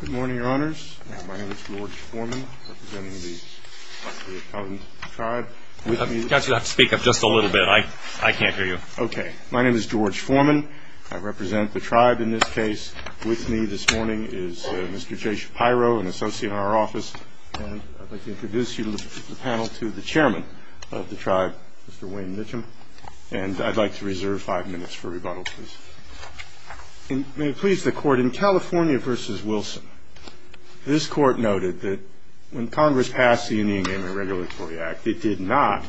Good morning, your honors. My name is George Foreman. I represent the tribe in this case. With me this morning is Mr. Jay Shapiro, an associate in our office. And I'd like to introduce you to the panel to the chairman of the tribe, Mr. Wayne Mitchum. And I'd like to reserve five minutes for rebuttal, please. May it please the court, in California v. Wilson, this court noted that when Congress passed the Indian Game and Regulatory Act, it did not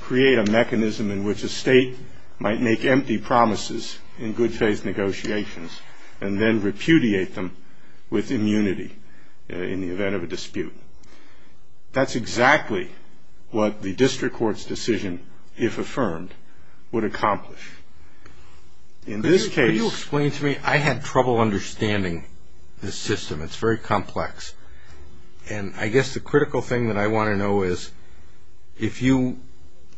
create a mechanism in which a state might make empty promises in good faith negotiations and then repudiate them with immunity in the event of a dispute. That's exactly what the district court's decision, if affirmed, would accomplish. In this case... Could you explain to me? I had trouble understanding this system. It's very complex. And I guess the critical thing that I want to know is, if you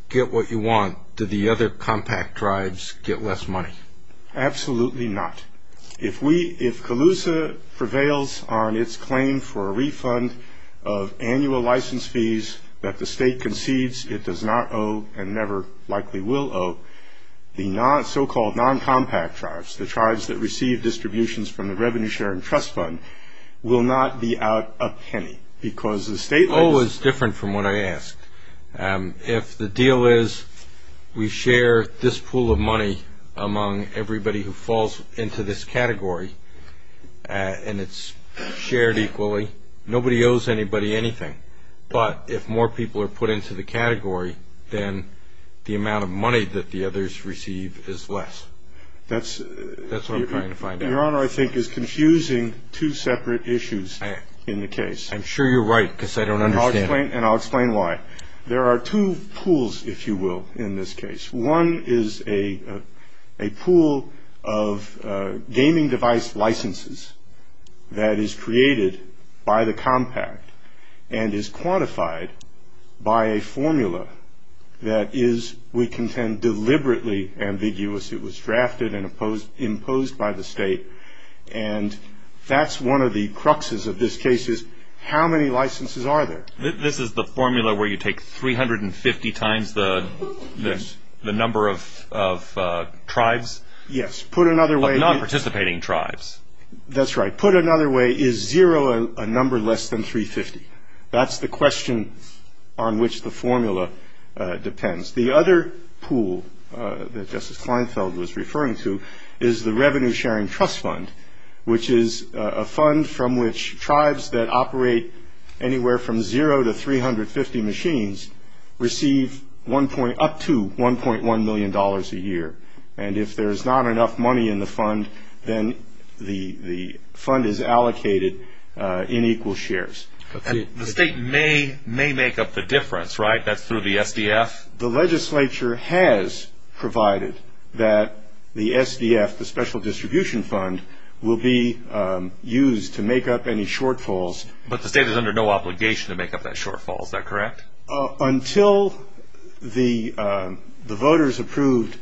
get what you want, do the other compact tribes get less money? Absolutely not. If Calusa prevails on its claim for a refund of annual license fees that the state concedes it does not owe and never likely will owe, the so-called non-compact tribes, the tribes that receive distributions from the Revenue Sharing Trust Fund, will not be out a penny because the state... The goal is different from what I asked. If the deal is we share this pool of money among everybody who falls into this category and it's shared equally, nobody owes anybody anything. But if more people are put into the category, then the amount of money that the others receive is less. That's what I'm trying to find out. Your Honor, I think it's confusing two separate issues in the case. I'm sure you're right because I don't understand it. There are two pools, if you will, in this case. One is a pool of gaming device licenses that is created by the compact and is quantified by a formula that is, we contend, deliberately ambiguous. It was drafted and imposed by the state. And that's one of the cruxes of this case is how many licenses are there? This is the formula where you take 350 times the number of tribes? Yes. Put another way... Of non-participating tribes. That's right. Put another way, is zero a number less than 350? That's the question on which the formula depends. The other pool that Justice Kleinfeld was referring to is the Revenue Sharing Trust Fund, which is a fund from which tribes that operate anywhere from zero to 350 machines receive up to $1.1 million a year. And if there's not enough money in the fund, then the fund is allocated in equal shares. The state may make up the difference, right? That's through the SDF? The legislature has provided that the SDF, the Special Distribution Fund, will be used to make up any shortfalls. But the state is under no obligation to make up that shortfall, is that correct? Until the voters approved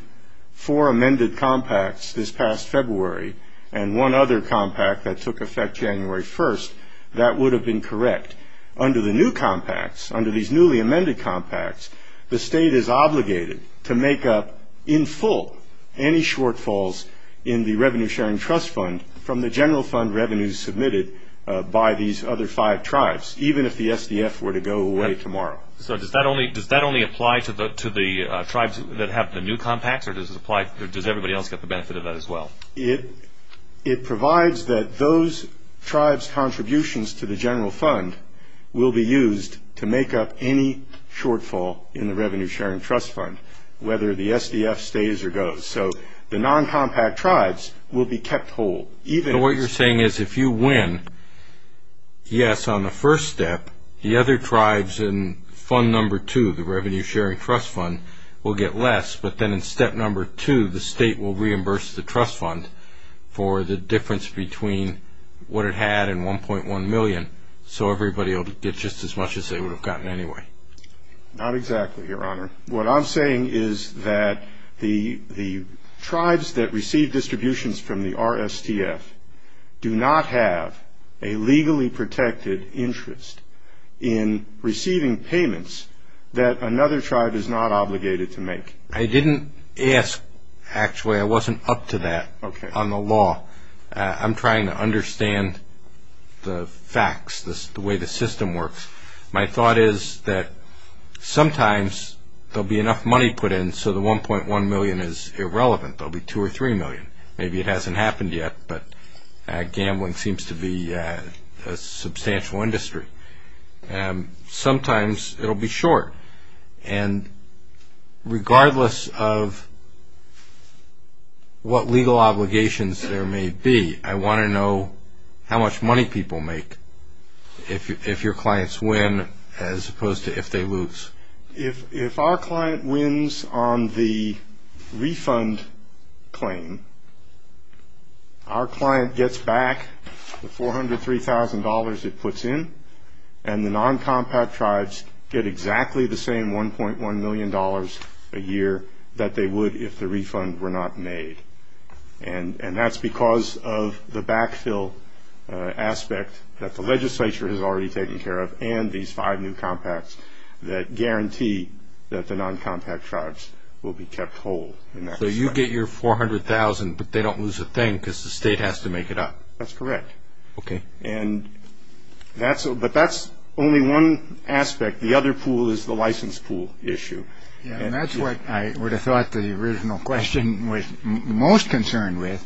four amended compacts this past February and one other compact that took effect January 1st, that would have been correct. Under the new compacts, under these newly amended compacts, the state is obligated to make up in full any shortfalls in the Revenue Sharing Trust Fund from the general fund revenues submitted by these other five tribes, even if the SDF were to go away tomorrow. So does that only apply to the tribes that have the new compacts, or does everybody else get the benefit of that as well? It provides that those tribes' contributions to the general fund will be used to make up any shortfall in the Revenue Sharing Trust Fund, whether the SDF stays or goes. So the non-compact tribes will be kept whole. So what you're saying is if you win, yes, on the first step, the other tribes in fund number two, the Revenue Sharing Trust Fund, will get less. But then in step number two, the state will reimburse the trust fund for the difference between what it had and $1.1 million, so everybody will get just as much as they would have gotten anyway. Not exactly, Your Honor. What I'm saying is that the tribes that receive distributions from the RSTF do not have a legally protected interest in receiving payments that another tribe is not obligated to make. I didn't ask, actually. I wasn't up to that on the law. I'm trying to understand the facts, the way the system works. My thought is that sometimes there will be enough money put in so the $1.1 million is irrelevant. There will be $2 or $3 million. Maybe it hasn't happened yet, but gambling seems to be a substantial industry. Sometimes it will be short. And regardless of what legal obligations there may be, I want to know how much money people make if your clients win as opposed to if they lose. If our client wins on the refund claim, our client gets back the $403,000 it puts in, and the non-compact tribes get exactly the same $1.1 million a year that they would if the refund were not made. And that's because of the backfill aspect that the legislature has already taken care of and these five new compacts that guarantee that the non-compact tribes will be kept whole. So you get your $400,000, but they don't lose a thing because the state has to make it up? That's correct. Okay. But that's only one aspect. The other pool is the license pool issue. And that's what I would have thought the original question was most concerned with.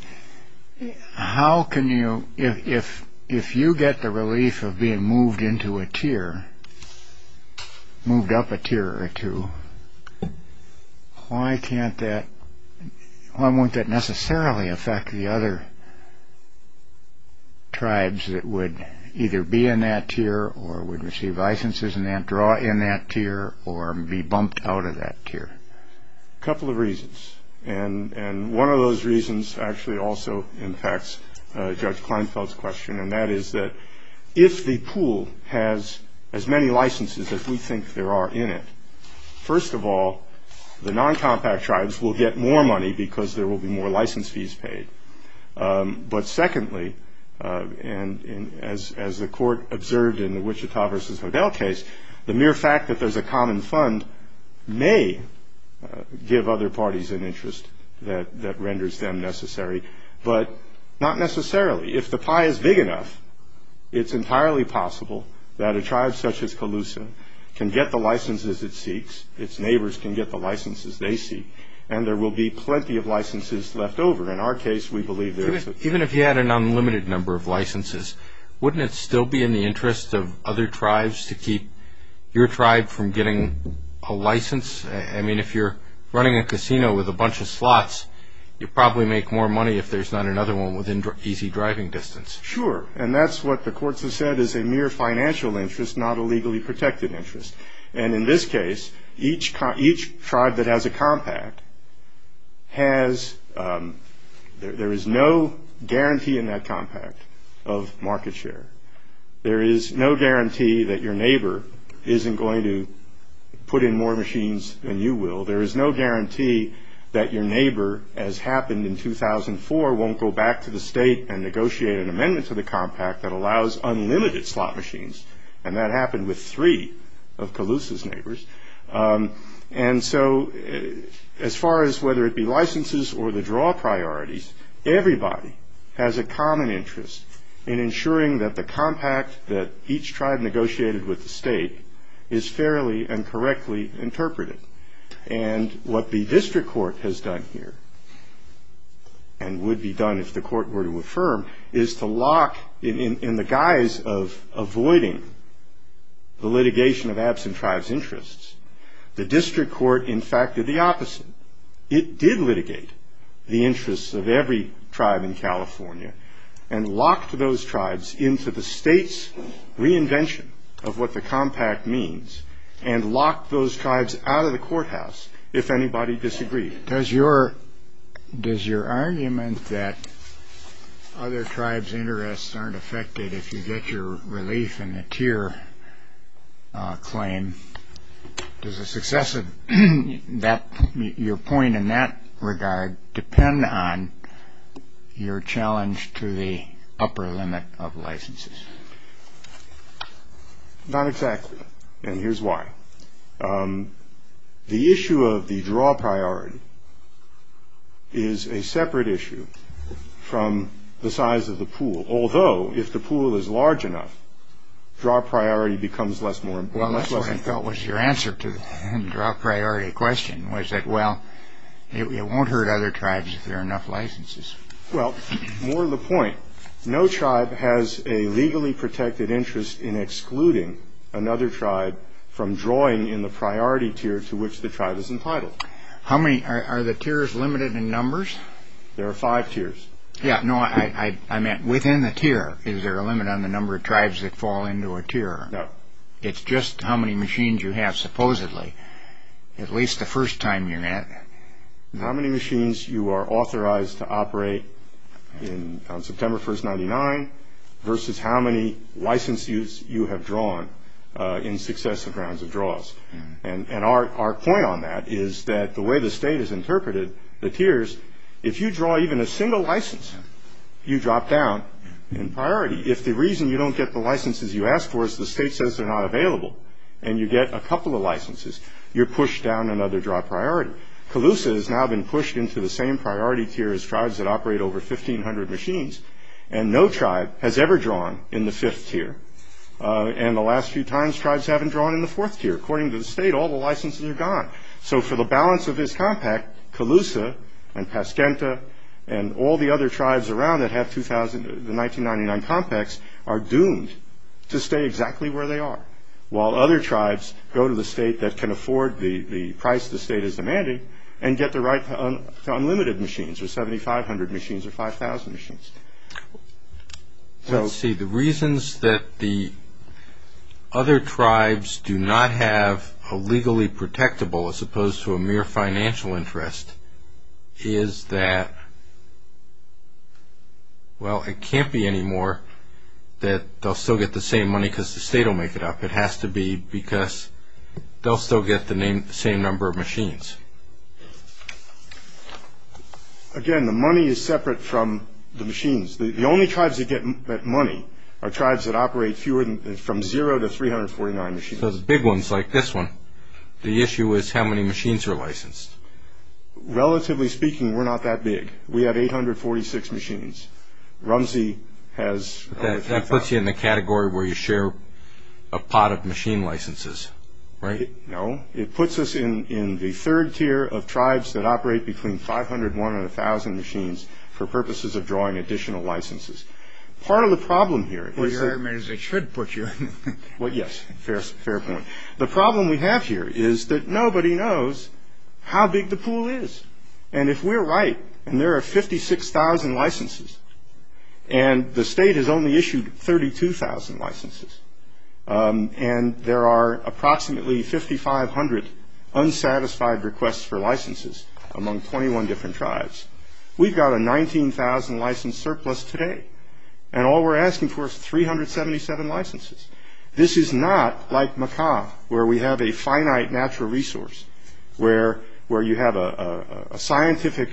If you get the relief of being moved up a tier or two, why won't that necessarily affect the other tribes that would either be in that tier or would receive licenses and draw in that tier or be bumped out of that tier? A couple of reasons. And one of those reasons actually also impacts Judge Kleinfeld's question, and that is that if the pool has as many licenses as we think there are in it, first of all, the non-compact tribes will get more money because there will be more license fees paid. But secondly, and as the court observed in the Wichita v. Hodel case, the mere fact that there's a common fund may give other parties an interest that renders them necessary, but not necessarily. If the pie is big enough, it's entirely possible that a tribe such as Colusa can get the licenses it seeks, its neighbors can get the licenses they seek, and there will be plenty of licenses left over. In our case, we believe there is. Even if you had an unlimited number of licenses, wouldn't it still be in the interest of other tribes to keep your tribe from getting a license? I mean, if you're running a casino with a bunch of slots, you'd probably make more money if there's not another one within easy driving distance. Sure. And that's what the courts have said is a mere financial interest, not a legally protected interest. And in this case, each tribe that has a compact has – there is no guarantee in that compact of market share. There is no guarantee that your neighbor isn't going to put in more machines than you will. There is no guarantee that your neighbor, as happened in 2004, won't go back to the state and negotiate an amendment to the compact that allows unlimited slot machines. And that happened with three of Colusa's neighbors. And so as far as whether it be licenses or the draw priorities, everybody has a common interest in ensuring that the compact that each tribe negotiated with the state is fairly and correctly interpreted. And what the district court has done here, and would be done if the court were to affirm, is to lock – in the guise of avoiding the litigation of absent tribes' interests, the district court, in fact, did the opposite. It did litigate the interests of every tribe in California and locked those tribes into the state's reinvention of what the compact means and locked those tribes out of the courthouse if anybody disagreed. Does your argument that other tribes' interests aren't affected if you get your relief in the tier claim – does the success of your point in that regard depend on your challenge to the upper limit of licenses? Not exactly, and here's why. The issue of the draw priority is a separate issue from the size of the pool. Although, if the pool is large enough, draw priority becomes less and less important. Well, that's what I felt was your answer to the draw priority question, was that, well, it won't hurt other tribes if there are enough licenses. Well, more to the point, no tribe has a legally protected interest in excluding another tribe from drawing in the priority tier to which the tribe is entitled. How many – are the tiers limited in numbers? There are five tiers. Yeah, no, I meant within the tier, is there a limit on the number of tribes that fall into a tier? No. It's just how many machines you have, supposedly, at least the first time you're at it. How many machines you are authorized to operate on September 1, 1999 versus how many licenses you have drawn in successive rounds of draws. And our point on that is that the way the state has interpreted the tiers, if you draw even a single license, you drop down in priority. If the reason you don't get the licenses you asked for is the state says they're not available and you get a couple of licenses, you're pushed down another draw priority. However, Calusa has now been pushed into the same priority tier as tribes that operate over 1,500 machines, and no tribe has ever drawn in the fifth tier. And the last few times, tribes haven't drawn in the fourth tier. According to the state, all the licenses are gone. So for the balance of his compact, Calusa and Pasquenta and all the other tribes around that have the 1999 compacts are doomed to stay exactly where they are. While other tribes go to the state that can afford the price the state is demanding and get the right to unlimited machines or 7,500 machines or 5,000 machines. Let's see, the reasons that the other tribes do not have a legally protectable as opposed to a mere financial interest is that, well, it can't be anymore that they'll still get the same money because the state will make it up. It has to be because they'll still get the same number of machines. Again, the money is separate from the machines. The only tribes that get money are tribes that operate from zero to 349 machines. So the big ones like this one, the issue is how many machines are licensed. Relatively speaking, we're not that big. We have 846 machines. Rumsey has... That puts you in the category where you share a pot of machine licenses, right? No. It puts us in the third tier of tribes that operate between 501 and 1,000 machines for purposes of drawing additional licenses. Part of the problem here is that... Well, your argument is they should put you in. Well, yes. Fair point. The problem we have here is that nobody knows how big the pool is. And if we're right, and there are 56,000 licenses, and the state has only issued 32,000 licenses, and there are approximately 5,500 unsatisfied requests for licenses among 21 different tribes, we've got a 19,000 license surplus today, and all we're asking for is 377 licenses. This is not like Macaw, where we have a finite natural resource, where you have a scientific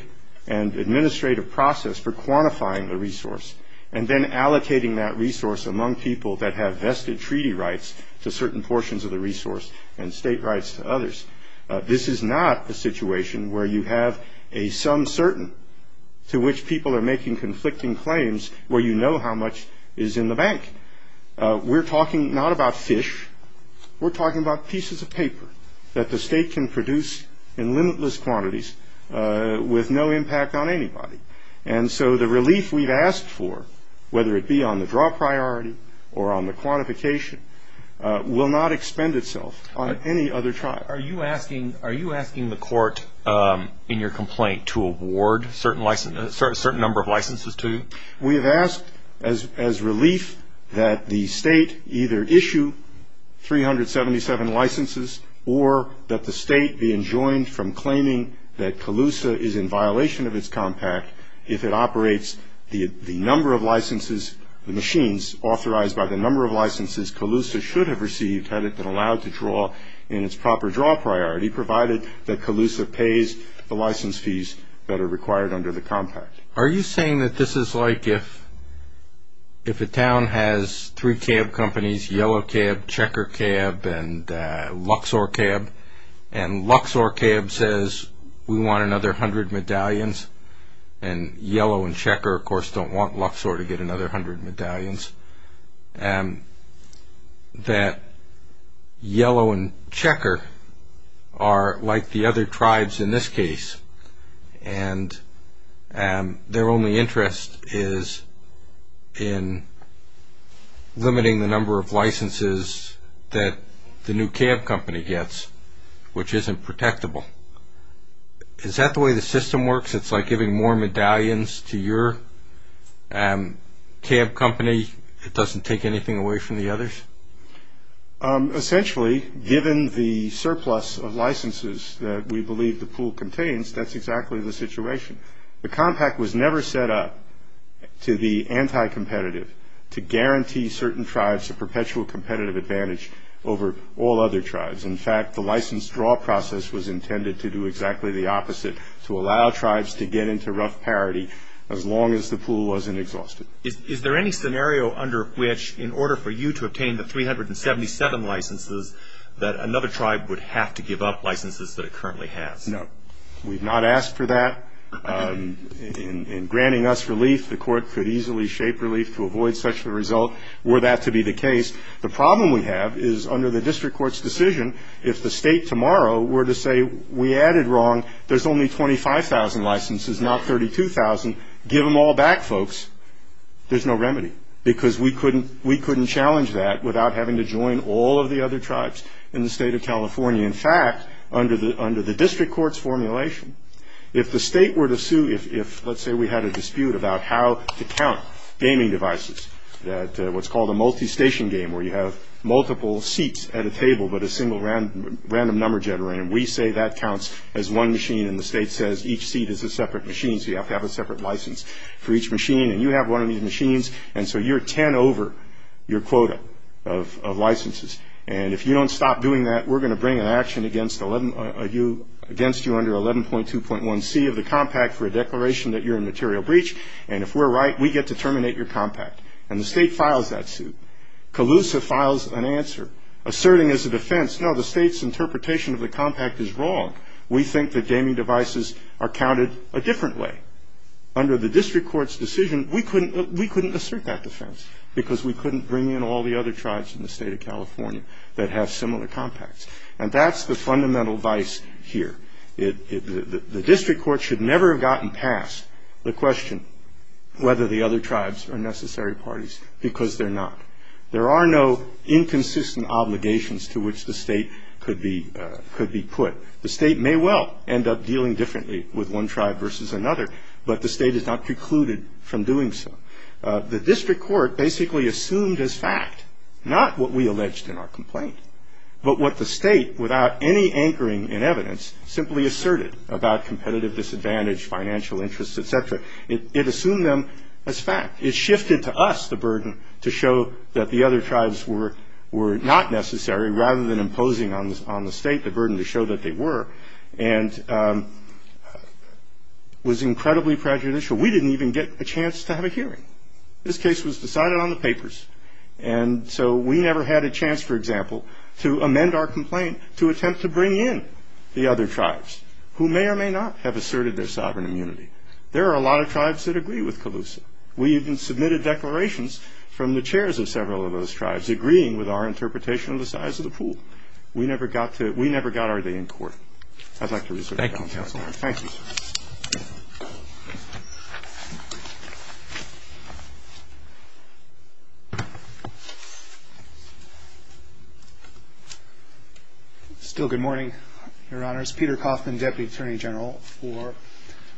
and administrative process for quantifying the resource and then allocating that resource among people that have vested treaty rights to certain portions of the resource and state rights to others. This is not a situation where you have a some certain to which people are making conflicting claims where you know how much is in the bank. We're talking not about fish. We're talking about pieces of paper that the state can produce in limitless quantities with no impact on anybody. And so the relief we've asked for, whether it be on the draw priority or on the quantification, will not expend itself on any other tribe. Are you asking the court in your complaint to award a certain number of licenses to you? We have asked as relief that the state either issue 377 licenses or that the state be enjoined from claiming that Calusa is in violation of its compact if it operates the number of licenses, the machines authorized by the number of licenses Calusa should have received had it been allowed to draw in its proper draw priority, provided that Calusa pays the license fees that are required under the compact. Are you saying that this is like if a town has three cab companies, Yellow Cab, Checker Cab, and Luxor Cab, and Luxor Cab says we want another hundred medallions, and Yellow and Checker, of course, don't want Luxor to get another hundred medallions, that Yellow and Checker are like the other tribes in this case, and their only interest is in limiting the number of licenses that the new cab company gets, which isn't protectable. Is that the way the system works? It's like giving more medallions to your cab company. It doesn't take anything away from the others? Essentially, given the surplus of licenses that we believe the pool contains, that's exactly the situation. The compact was never set up to be anti-competitive, to guarantee certain tribes a perpetual competitive advantage over all other tribes. In fact, the license draw process was intended to do exactly the opposite, to allow tribes to get into rough parity as long as the pool wasn't exhausted. Is there any scenario under which in order for you to obtain the 377 licenses that another tribe would have to give up licenses that it currently has? No. We've not asked for that. In granting us relief, the court could easily shape relief to avoid such a result were that to be the case. The problem we have is under the district court's decision, if the state tomorrow were to say we added wrong, there's only 25,000 licenses, not 32,000, give them all back, folks, there's no remedy. Because we couldn't challenge that without having to join all of the other tribes in the state of California. In fact, under the district court's formulation, if the state were to sue, if let's say we had a dispute about how to count gaming devices, what's called a multi-station game where you have multiple seats at a table but a single random number generator, we say that counts as one machine, and the state says each seat is a separate machine, so you have to have a separate license for each machine, and you have one of these machines, and so you're 10 over your quota of licenses. And if you don't stop doing that, we're going to bring an action against you under 11.2.1c of the compact for a declaration that you're in material breach, and if we're right, we get to terminate your compact. And the state files that suit. CALUSA files an answer, asserting as a defense, no, the state's interpretation of the compact is wrong. We think that gaming devices are counted a different way. Under the district court's decision, we couldn't assert that defense because we couldn't bring in all the other tribes in the state of California that have similar compacts. And that's the fundamental vice here. The district court should never have gotten past the question whether the other tribes are necessary parties because they're not. There are no inconsistent obligations to which the state could be put. The state may well end up dealing differently with one tribe versus another, but the state is not precluded from doing so. The district court basically assumed as fact, not what we alleged in our complaint, but what the state, without any anchoring in evidence, simply asserted about competitive disadvantage, financial interests, et cetera. It assumed them as fact. It shifted to us the burden to show that the other tribes were not necessary rather than imposing on the state the burden to show that they were, and was incredibly prejudicial. We didn't even get a chance to have a hearing. This case was decided on the papers. And so we never had a chance, for example, to amend our complaint to attempt to bring in the other tribes who may or may not have asserted their sovereign immunity. There are a lot of tribes that agree with Calusa. We even submitted declarations from the chairs of several of those tribes agreeing with our interpretation of the size of the pool. We never got our day in court. I'd like to reserve the balance of my time. Thank you, counsel. Thank you. Still good morning, Your Honors. Peter Coffman, Deputy Attorney General for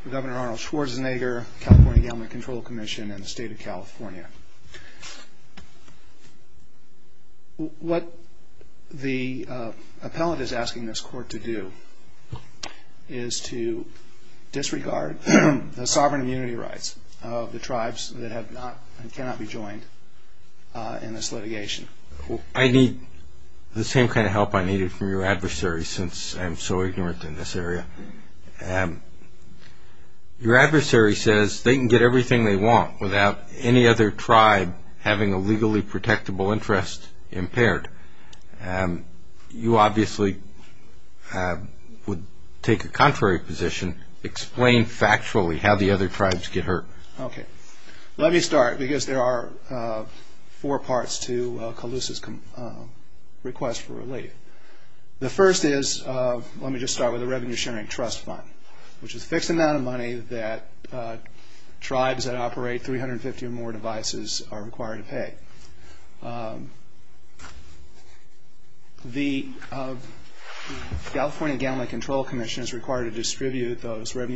Governor Arnold Schwarzenegger, California Government Control Commission, and the State of California. What the appellant is asking this court to do is to disregard the sovereign immunity rights of the tribes that have not and cannot be joined in this litigation. I need the same kind of help I needed from your adversary since I'm so ignorant in this area. Your adversary says they can get everything they want without any other tribe having a legally protectable interest impaired. You obviously would take a contrary position, explain factually how the other tribes get hurt. Let me start because there are four parts to Calusa's request for relief. The first is, let me just start with the Revenue Sharing Trust Fund, which is a fixed amount of money that tribes that operate 350 or more devices are required to pay. Revenue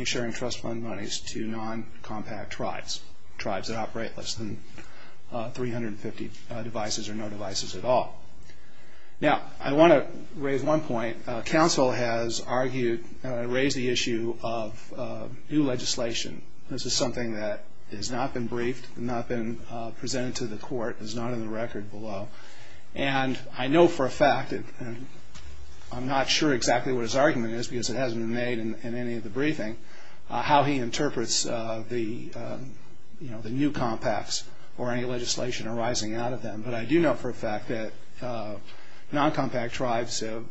Sharing Trust Fund money is to non-compact tribes, tribes that operate less than 350 devices or no devices at all. I want to raise one point. Counsel has raised the issue of new legislation. This is something that has not been briefed, has not been presented to the court, is not on the record below. I know for a fact, and I'm not sure exactly what his argument is because it hasn't been made in any of the briefing, how he interprets the new compacts or any legislation arising out of them. But I do know for a fact that non-compact tribes have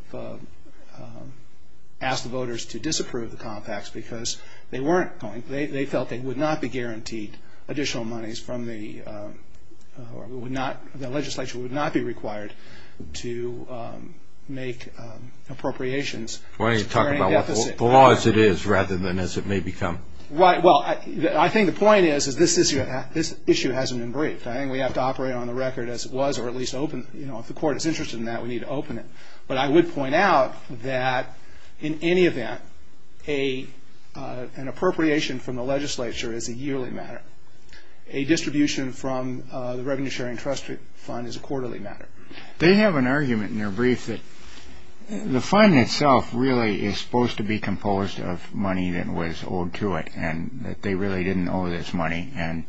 asked the voters to disapprove the compacts because they felt they would not be guaranteed additional monies from the or the legislature would not be required to make appropriations. Why don't you talk about the law as it is rather than as it may become. Well, I think the point is this issue hasn't been briefed. I think we have to operate on the record as it was or at least open. If the court is interested in that, we need to open it. But I would point out that in any event, an appropriation from the legislature is a yearly matter. A distribution from the Revenue Sharing Trust Fund is a quarterly matter. They have an argument in their brief that the fund itself really is supposed to be composed of money that was owed to it and that they really didn't owe this money. And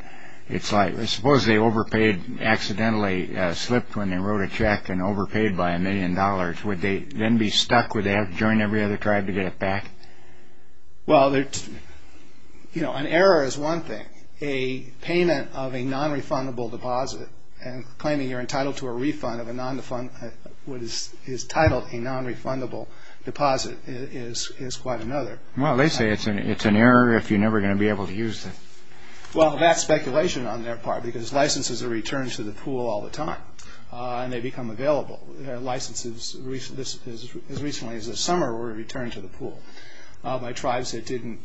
it's like, suppose they overpaid, accidentally slipped when they wrote a check and overpaid by a million dollars. Would they then be stuck? Would they have to join every other tribe to get it back? Well, an error is one thing. A payment of a nonrefundable deposit and claiming you're entitled to a refund of what is titled a nonrefundable deposit is quite another. Well, they say it's an error if you're never going to be able to use it. Well, that's speculation on their part because licenses are returned to the pool all the time and they become available. Licenses as recently as the summer were returned to the pool by tribes that didn't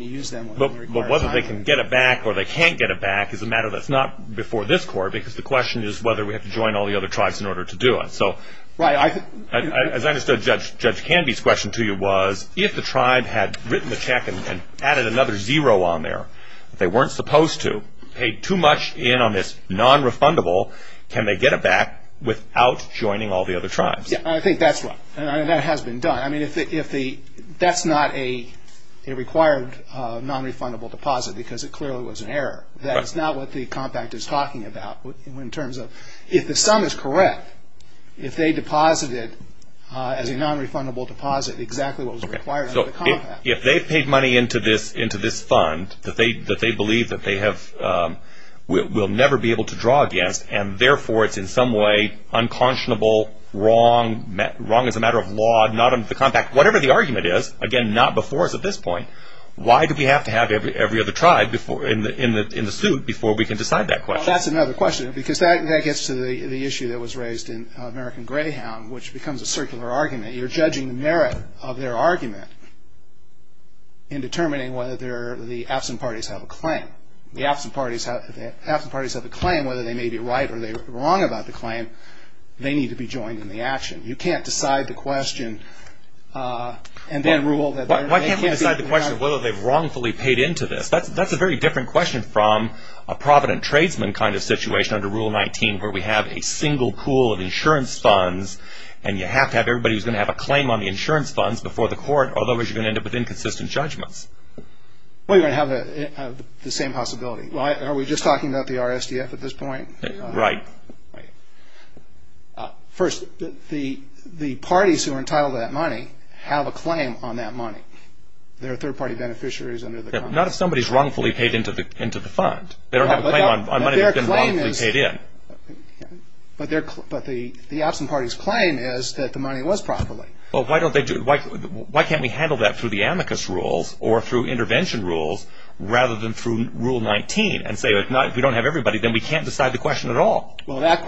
use them. But whether they can get it back or they can't get it back is a matter that's not before this court because the question is whether we have to join all the other tribes in order to do it. So as I understood Judge Canby's question to you was, if the tribe had written the check and added another zero on there that they weren't supposed to, paid too much in on this nonrefundable, can they get it back without joining all the other tribes? Yeah, I think that's right. And that has been done. I mean, that's not a required nonrefundable deposit because it clearly was an error. That's not what the compact is talking about in terms of if the sum is correct, if they deposited as a nonrefundable deposit exactly what was required under the compact. If they paid money into this fund that they believe that they will never be able to draw against and therefore it's in some way unconscionable, wrong, wrong as a matter of law, not under the compact, whatever the argument is, again, not before us at this point, why do we have to have every other tribe in the suit before we can decide that question? Well, that's another question because that gets to the issue that was raised in American Greyhound, which becomes a circular argument. You're judging the merit of their argument in determining whether the absent parties have a claim. If the absent parties have a claim, whether they may be right or they may be wrong about the claim, they need to be joined in the action. You can't decide the question and then rule that they're not. Why can't we decide the question of whether they've wrongfully paid into this? That's a very different question from a provident tradesman kind of situation under Rule 19 where we have a single pool of insurance funds and you have to have everybody who's going to have a claim on the insurance funds before the court, otherwise you're going to end up with inconsistent judgments. Well, you're going to have the same possibility. Are we just talking about the RSDF at this point? Right. First, the parties who are entitled to that money have a claim on that money. They're third-party beneficiaries under the contract. Not if somebody's wrongfully paid into the fund. They don't have a claim on money that's been wrongfully paid in. But the absent party's claim is that the money was properly. Why can't we handle that through the amicus rules or through intervention rules rather than through Rule 19 and say if we don't have everybody, then we can't decide the question at all? Well, that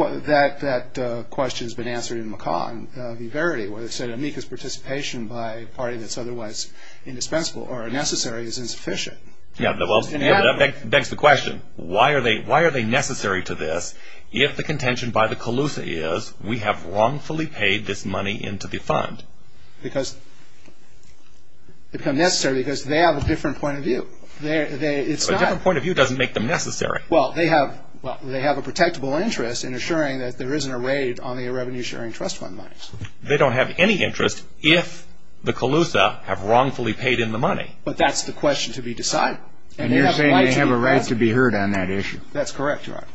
question's been answered in McCaw and Viverdi where they said amicus participation by a party that's otherwise indispensable or unnecessary is insufficient. That begs the question, why are they necessary to this if the contention by the CALUSA is we have wrongfully paid this money into the fund? Because they become necessary because they have a different point of view. A different point of view doesn't make them necessary. Well, they have a protectable interest in assuring that there isn't a raid on the irrevenue-sharing trust fund money. They don't have any interest if the CALUSA have wrongfully paid in the money. But that's the question to be decided. And you're saying they have a right to be heard on that issue. That's correct, Your Honor.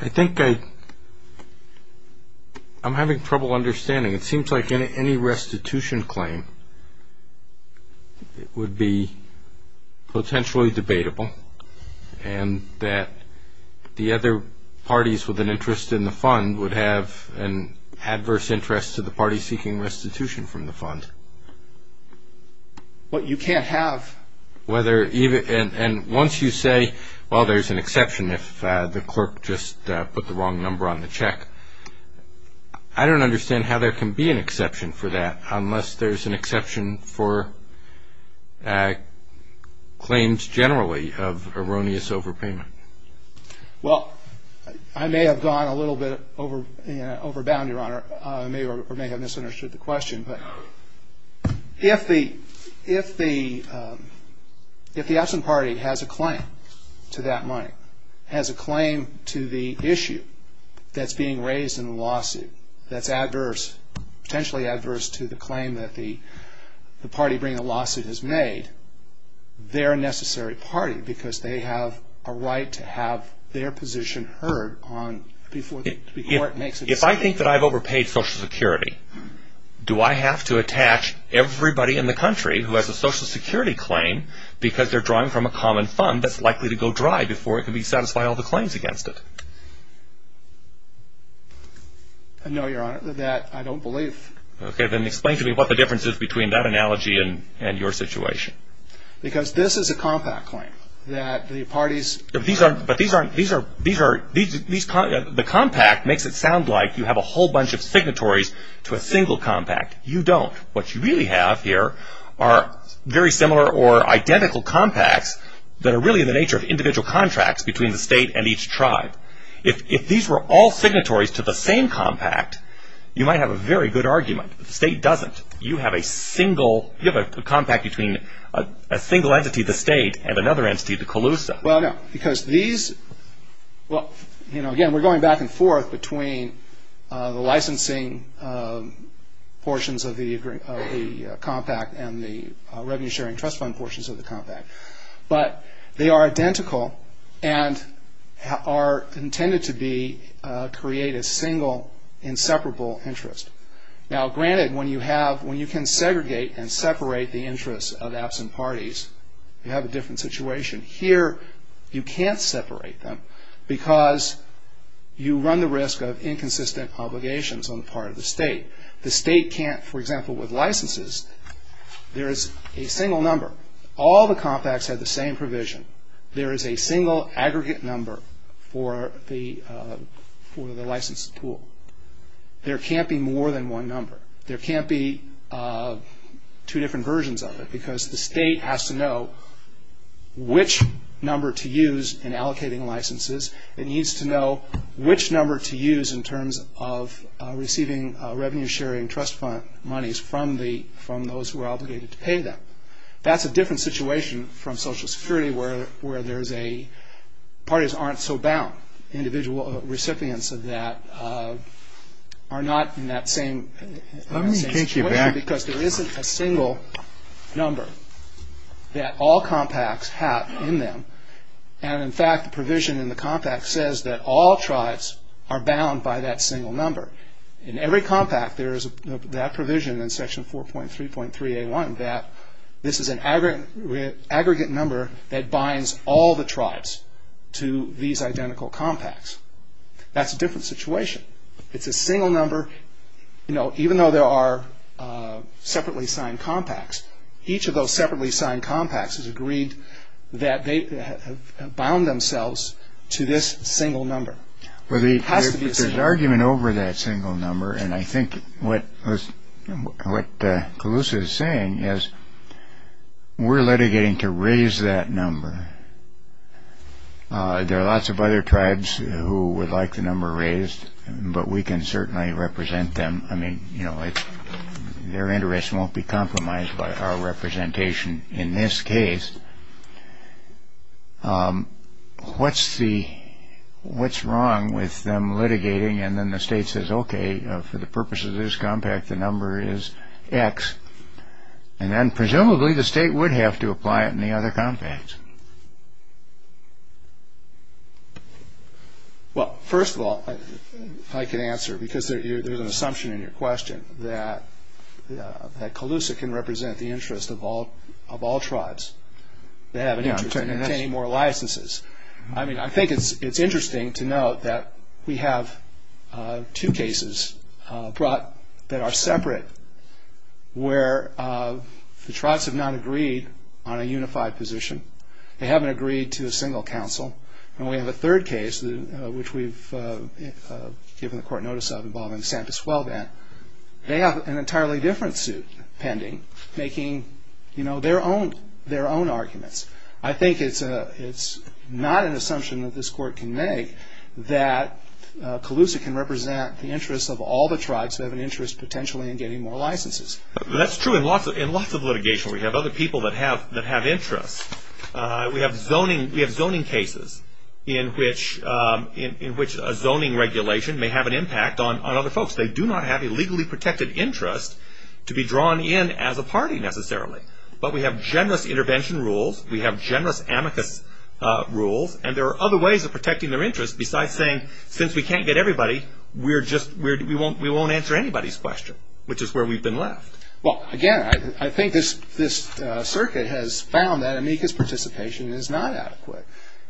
I think I'm having trouble understanding. It seems like any restitution claim would be potentially debatable and that the other parties with an interest in the fund would have an adverse interest to the party seeking restitution from the fund. But you can't have. And once you say, well, there's an exception if the clerk just put the wrong number on the check, I don't understand how there can be an exception for that unless there's an exception for claims generally of erroneous overpayment. Well, I may have gone a little bit overbound, Your Honor. I may have misunderstood the question, but if the absent party has a claim to that money, has a claim to the issue that's being raised in the lawsuit that's adverse, potentially adverse to the claim that the party bringing the lawsuit has made, they're a necessary party because they have a right to have their position heard before it makes its claim. If I think that I've overpaid Social Security, do I have to attach everybody in the country who has a Social Security claim because they're drawing from a common fund that's likely to go dry before it can satisfy all the claims against it? No, Your Honor, that I don't believe. Okay, then explain to me what the difference is between that analogy and your situation. Because this is a compact claim that the parties... The compact makes it sound like you have a whole bunch of signatories to a single compact. You don't. What you really have here are very similar or identical compacts that are really in the nature of individual contracts between the State and each tribe. If these were all signatories to the same compact, you might have a very good argument. The State doesn't. You have a compact between a single entity, the State, and another entity, the Colusa. Well, no, because these... Again, we're going back and forth between the licensing portions of the compact and the revenue-sharing trust fund portions of the compact. But they are identical and are intended to create a single inseparable interest. Now, granted, when you can segregate and separate the interests of absent parties, you have a different situation. Here, you can't separate them because you run the risk of inconsistent obligations on the part of the State. The State can't, for example, with licenses, there is a single number. All the compacts have the same provision. There is a single aggregate number for the license tool. There can't be more than one number. There can't be two different versions of it because the State has to know which number to use in allocating licenses. It needs to know which number to use in terms of receiving revenue-sharing trust fund monies from those who are obligated to pay them. That's a different situation from Social Security where there's a... Parties aren't so bound. Individual recipients of that are not in that same situation because there isn't a single... number that all compacts have in them. And, in fact, the provision in the compact says that all tribes are bound by that single number. In every compact, there is that provision in Section 4.3.3A1 that this is an aggregate number that binds all the tribes to these identical compacts. That's a different situation. It's a single number even though there are separately signed compacts. Each of those separately signed compacts has agreed that they have bound themselves to this single number. It has to be a single number. Well, there's an argument over that single number, and I think what Calusa is saying is we're litigating to raise that number. There are lots of other tribes who would like the number raised, but we can certainly represent them. I mean, you know, their interests won't be compromised by our representation in this case. What's the... What's wrong with them litigating and then the state says, okay, for the purpose of this compact, the number is X, and then presumably the state would have to apply it in the other compact. Well, first of all, I can answer because there's an assumption in your question that Calusa can represent the interest of all tribes that have an interest in obtaining more licenses. I mean, I think it's interesting to note that we have two cases brought that are separate where the tribes have not agreed on a unified position. They haven't agreed to a single council, and we have a third case which we've given the court notice of involving San Pasuelvan. They have an entirely different suit pending, making, you know, their own arguments. I think it's not an assumption that this court can make in getting more licenses. That's true in lots of litigation. We have other people that have interests. We have zoning cases in which a zoning regulation may have an impact on other folks. They do not have a legally protected interest to be drawn in as a party necessarily, but we have generous intervention rules. We have generous amicus rules, and there are other ways of protecting their interests besides saying, since we can't get everybody, we won't answer anybody's question, which is where we've been left. Well, again, I think this circuit has found that amicus participation is not adequate,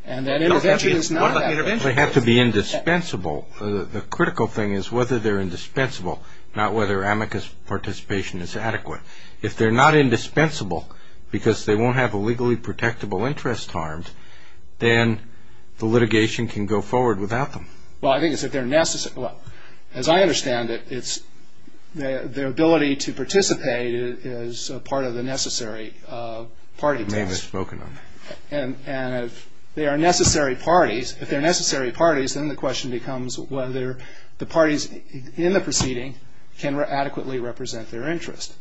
and that intervention is not adequate. They have to be indispensable. The critical thing is whether they're indispensable, not whether amicus participation is adequate. If they're not indispensable because they won't have a legally protectable interest harmed, then the litigation can go forward without them. Well, I think it's if they're necessary. Well, as I understand it, it's their ability to participate is part of the necessary party test. It may have been spoken of. And if they are necessary parties, if they're necessary parties, then the question becomes whether the parties in the proceeding can adequately represent their interest.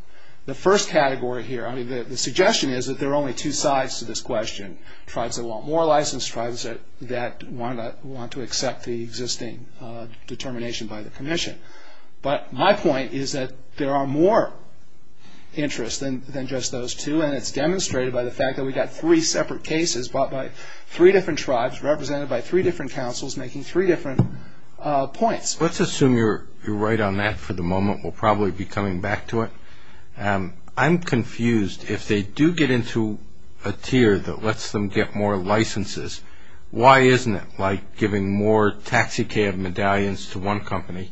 The first category here, I mean, the suggestion is that there are only two sides to this question, tribes that want more license, tribes that want to accept the existing determination by the commission. But my point is that there are more interests than just those two, and it's demonstrated by the fact that we've got three separate cases brought by three different tribes, represented by three different councils, making three different points. Let's assume you're right on that for the moment. We'll probably be coming back to it. I'm confused. If they do get into a tier that lets them get more licenses, why isn't it like giving more taxicab medallions to one company?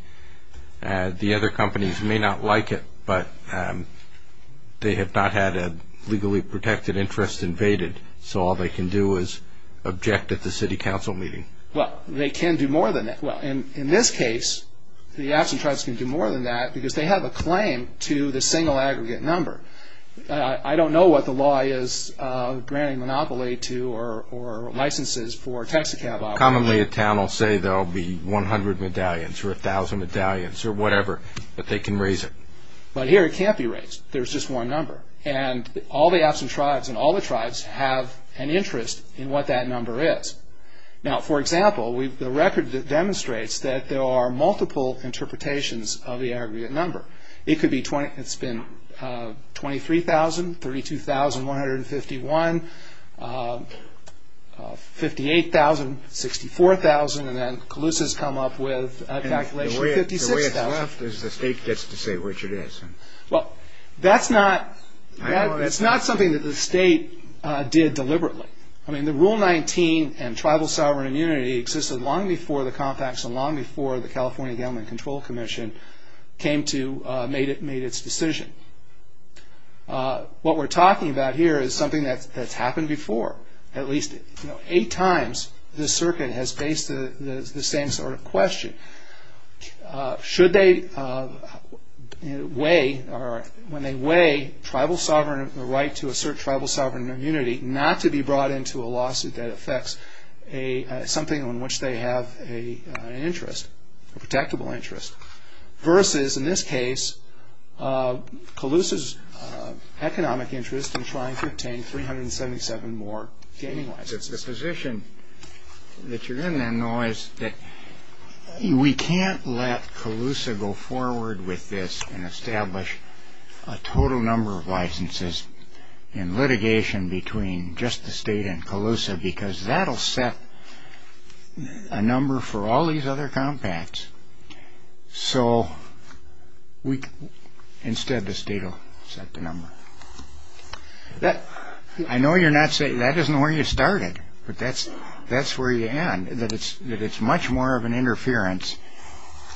The other companies may not like it, but they have not had a legally protected interest invaded, so all they can do is object at the city council meeting. Well, they can do more than that. Well, in this case, the absent tribes can do more than that because they have a claim to the single aggregate number. I don't know what the law is granting monopoly to or licenses for taxicab operators. Commonly a town will say there will be 100 medallions or 1,000 medallions or whatever, but they can raise it. But here it can't be raised. There's just one number, and all the absent tribes and all the tribes have an interest in what that number is. Now, for example, the record demonstrates that there are multiple interpretations of the aggregate number. It's been 23,000, 32,151, 58,000, 64,000, and then Calusa's come up with a calculation of 56,000. The way it's left is the state gets to say which it is. Well, that's not something that the state did deliberately. I mean, the Rule 19 and tribal sovereign immunity existed long before the Compact and long before the California Government Control Commission made its decision. What we're talking about here is something that's happened before. At least eight times this circuit has faced the same sort of question. Should they weigh or when they weigh tribal sovereign right to assert tribal sovereign immunity not to be brought into a lawsuit that affects something on which they have an interest, a protectable interest, versus, in this case, Calusa's economic interest in trying to obtain 377 more gaming licenses? The position that you're in then, though, is that we can't let Calusa go forward with this and establish a total number of licenses in litigation between just the state and Calusa because that will set a number for all these other compacts. So instead, the state will set the number. I know you're not saying that isn't where you started, but that's where you're at, that it's much more of an interference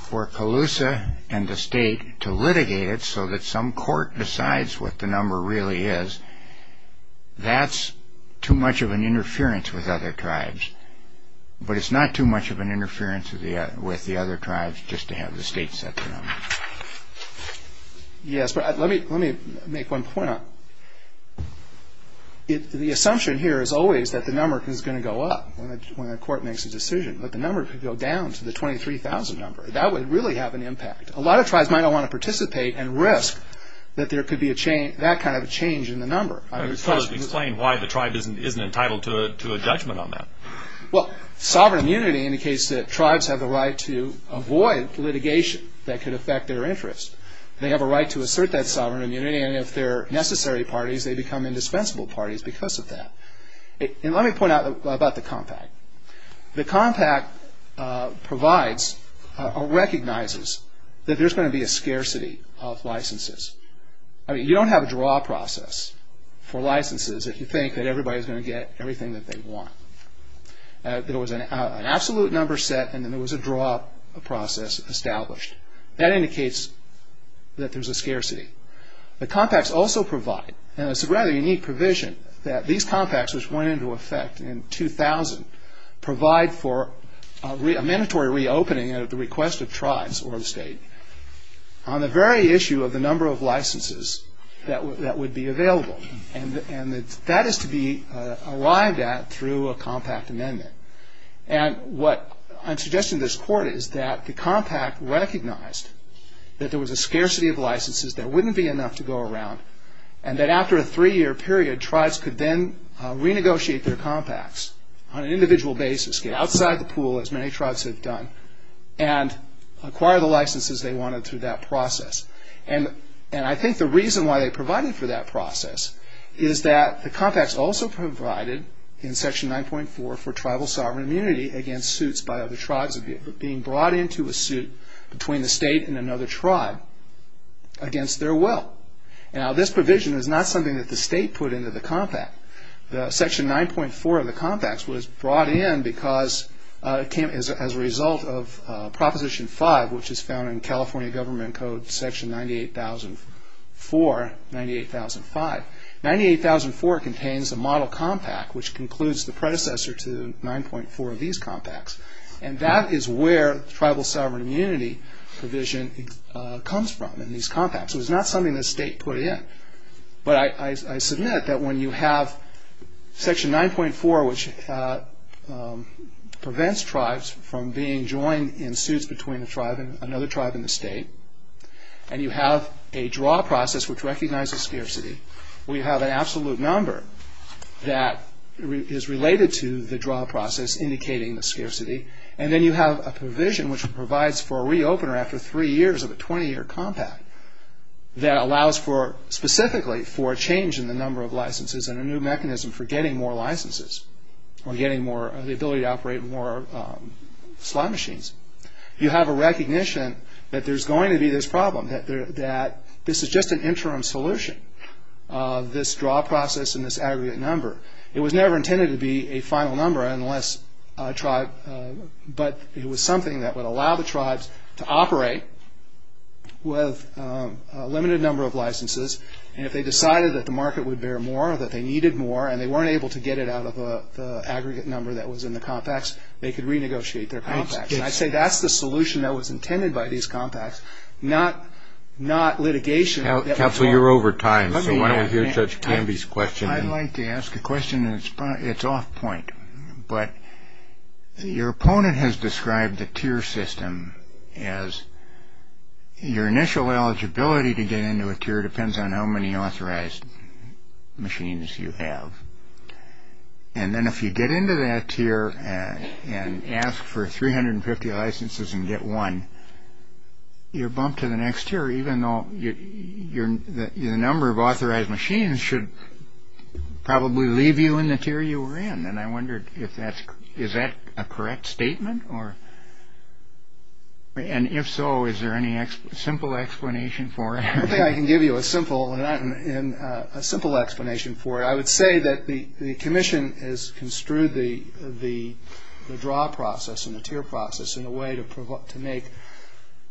for Calusa and the state to litigate it so that some court decides what the number really is. That's too much of an interference with other tribes, but it's not too much of an interference with the other tribes just to have the state set the number. Yes, but let me make one point. The assumption here is always that the number is going to go up when a court makes a decision, but the number could go down to the 23,000 number. That would really have an impact. A lot of tribes might not want to participate and risk that there could be that kind of a change in the number. Explain why the tribe isn't entitled to a judgment on that. Sovereign immunity indicates that tribes have the right to avoid litigation that could affect their interests. They have a right to assert that sovereign immunity, and if they're necessary parties, they become indispensable parties because of that. Let me point out about the compact. The compact recognizes that there's going to be a scarcity of licenses. You don't have a draw process for licenses if you think that everybody's going to get everything that they want. There was an absolute number set, and then there was a draw process established. That indicates that there's a scarcity. The compacts also provide, and it's a rather unique provision, that these compacts, which went into effect in 2000, provide for a mandatory reopening at the request of tribes or the state. On the very issue of the number of licenses that would be available, and that is to be arrived at through a compact amendment. And what I'm suggesting to this Court is that the compact recognized that there was a scarcity of licenses, there wouldn't be enough to go around, and that after a three-year period, tribes could then renegotiate their compacts on an individual basis, get outside the pool, as many tribes have done, and acquire the licenses they wanted through that process. And I think the reason why they provided for that process is that the compacts also provided, in Section 9.4, for tribal sovereign immunity against suits by other tribes being brought into a suit between the state and another tribe against their will. Now, this provision is not something that the state put into the compact. Section 9.4 of the compacts was brought in as a result of Proposition 5, which is found in California Government Code Section 98004, 98005. 98004 contains a model compact, which concludes the predecessor to 9.4 of these compacts. And that is where tribal sovereign immunity provision comes from in these compacts. It was not something the state put in. But I submit that when you have Section 9.4, which prevents tribes from being joined in suits between another tribe and the state, and you have a draw process which recognizes scarcity, we have an absolute number that is related to the draw process indicating the scarcity, and then you have a provision which provides for a re-opener after three years of a 20-year compact that allows for, specifically, for a change in the number of licenses and a new mechanism for getting more licenses or the ability to operate more slot machines. You have a recognition that there's going to be this problem, that this is just an interim solution of this draw process and this aggregate number. It was never intended to be a final number unless a tribe, but it was something that would allow the tribes to operate with a limited number of licenses, and if they decided that the market would bear more or that they needed more and they weren't able to get it out of the aggregate number that was in the compacts, they could renegotiate their compacts. And I say that's the solution that was intended by these compacts, not litigation. Counsel, you're over time, so why don't we hear Judge Canby's question. I'd like to ask a question, and it's off point. But your opponent has described the tier system as your initial eligibility to get into a tier depends on how many authorized machines you have. And then if you get into that tier and ask for 350 licenses and get one, you're bumped to the next tier even though the number of authorized machines should probably leave you in the tier you were in. And I wondered is that a correct statement? And if so, is there any simple explanation for it? I think I can give you a simple explanation for it. I would say that the commission has construed the draw process and the tier process in a way to make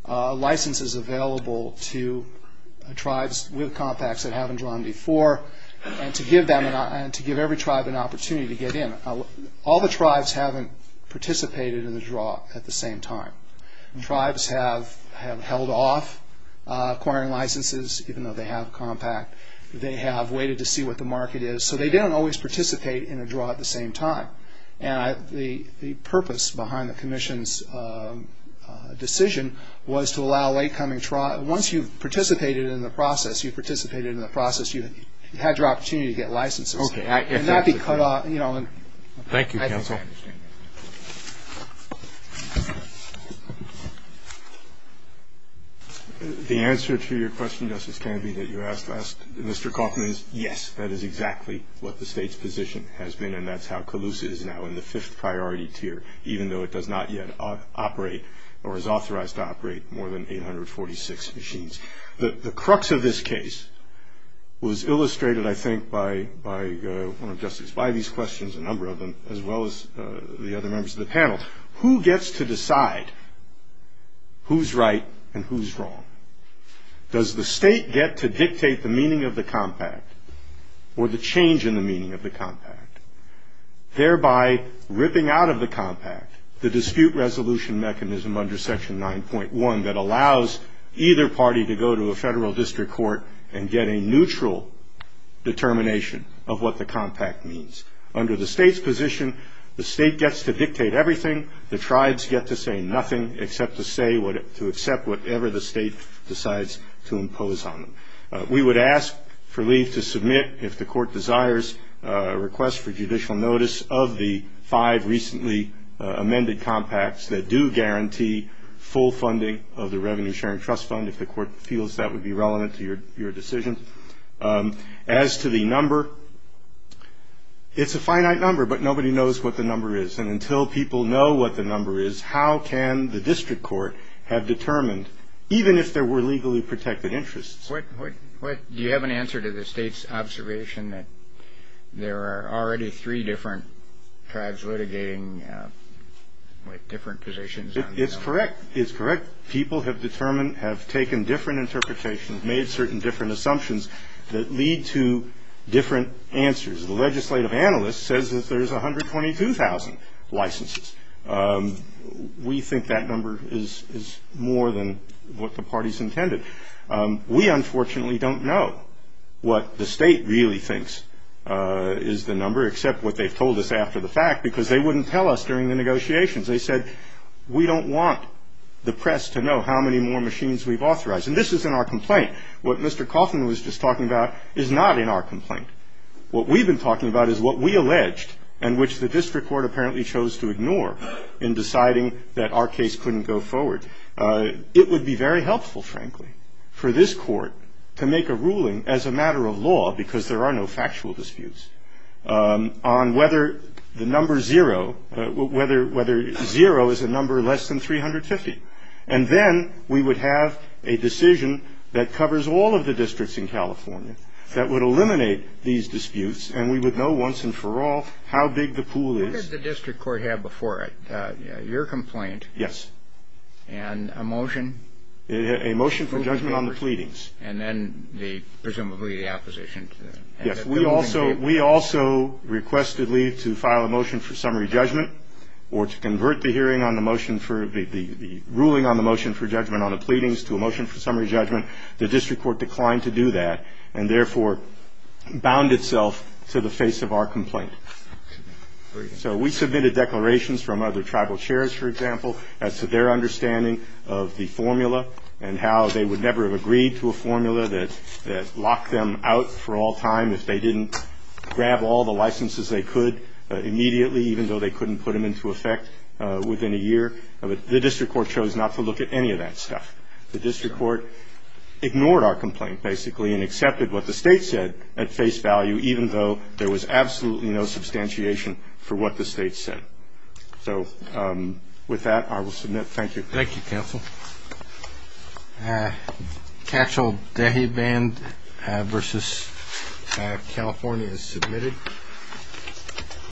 licenses available to tribes with compacts that haven't drawn before and to give every tribe an opportunity to get in. All the tribes haven't participated in the draw at the same time. Tribes have held off acquiring licenses even though they have a compact. They have waited to see what the market is. So they don't always participate in a draw at the same time. And the purpose behind the commission's decision was to allow late coming tribes Once you've participated in the process, you've participated in the process, you've had your opportunity to get licenses. Okay. Thank you, counsel. The answer to your question, Justice Canby, that you asked Mr. Kaufman is yes, that is exactly what the state's position has been, and that's how CALUSA is now in the fifth priority tier even though it does not yet operate or is authorized to operate more than 846 machines. The crux of this case was illustrated, I think, by one of Justice Bivey's questions, a number of them, as well as the other members of the panel. Who gets to decide who's right and who's wrong? Does the state get to dictate the meaning of the compact or the change in the meaning of the compact, thereby ripping out of the compact the dispute resolution mechanism under Section 9.1 that allows either party to go to a federal district court and get a neutral determination of what the compact means? Under the state's position, the state gets to dictate everything. The tribes get to say nothing except to accept whatever the state decides to impose on them. We would ask for leave to submit, if the court desires, a request for judicial notice of the five recently amended compacts that do guarantee full funding of the Revenue Sharing Trust Fund, if the court feels that would be relevant to your decision. As to the number, it's a finite number, but nobody knows what the number is, and until people know what the number is, how can the district court have determined, even if there were legally protected interests? Do you have an answer to the state's observation that there are already three different tribes litigating with different positions? It's correct. It's correct. People have determined, have taken different interpretations, made certain different assumptions that lead to different answers. The legislative analyst says that there's 122,000 licenses. We think that number is more than what the parties intended. We, unfortunately, don't know what the state really thinks is the number, except what they've told us after the fact because they wouldn't tell us during the negotiations. They said, we don't want the press to know how many more machines we've authorized, and this is in our complaint. What Mr. Coffman was just talking about is not in our complaint. What we've been talking about is what we alleged and which the district court apparently chose to ignore in deciding that our case couldn't go forward. It would be very helpful, frankly, for this court to make a ruling as a matter of law because there are no factual disputes on whether the number zero, whether zero is a number less than 350. And then we would have a decision that covers all of the districts in California that would eliminate these disputes, and we would know once and for all how big the pool is. Who did the district court have before it? Your complaint. Yes. And a motion? A motion for judgment on the pleadings. And then presumably the opposition. Yes. We also requested leave to file a motion for summary judgment or to convert the hearing on the motion for the ruling on the motion for judgment on the pleadings to a motion for summary judgment. The district court declined to do that and, therefore, bound itself to the face of our complaint. So we submitted declarations from other tribal chairs, for example, as to their understanding of the formula and how they would never have agreed to a formula that locked them out for all time if they didn't grab all the licenses they could immediately, even though they couldn't put them into effect within a year. The district court chose not to look at any of that stuff. The district court ignored our complaint, basically, and accepted what the state said at face value, even though there was absolutely no substantiation for what the state said. So with that, I will submit. Thank you. Thank you, counsel. Catch-all day band versus California is submitted.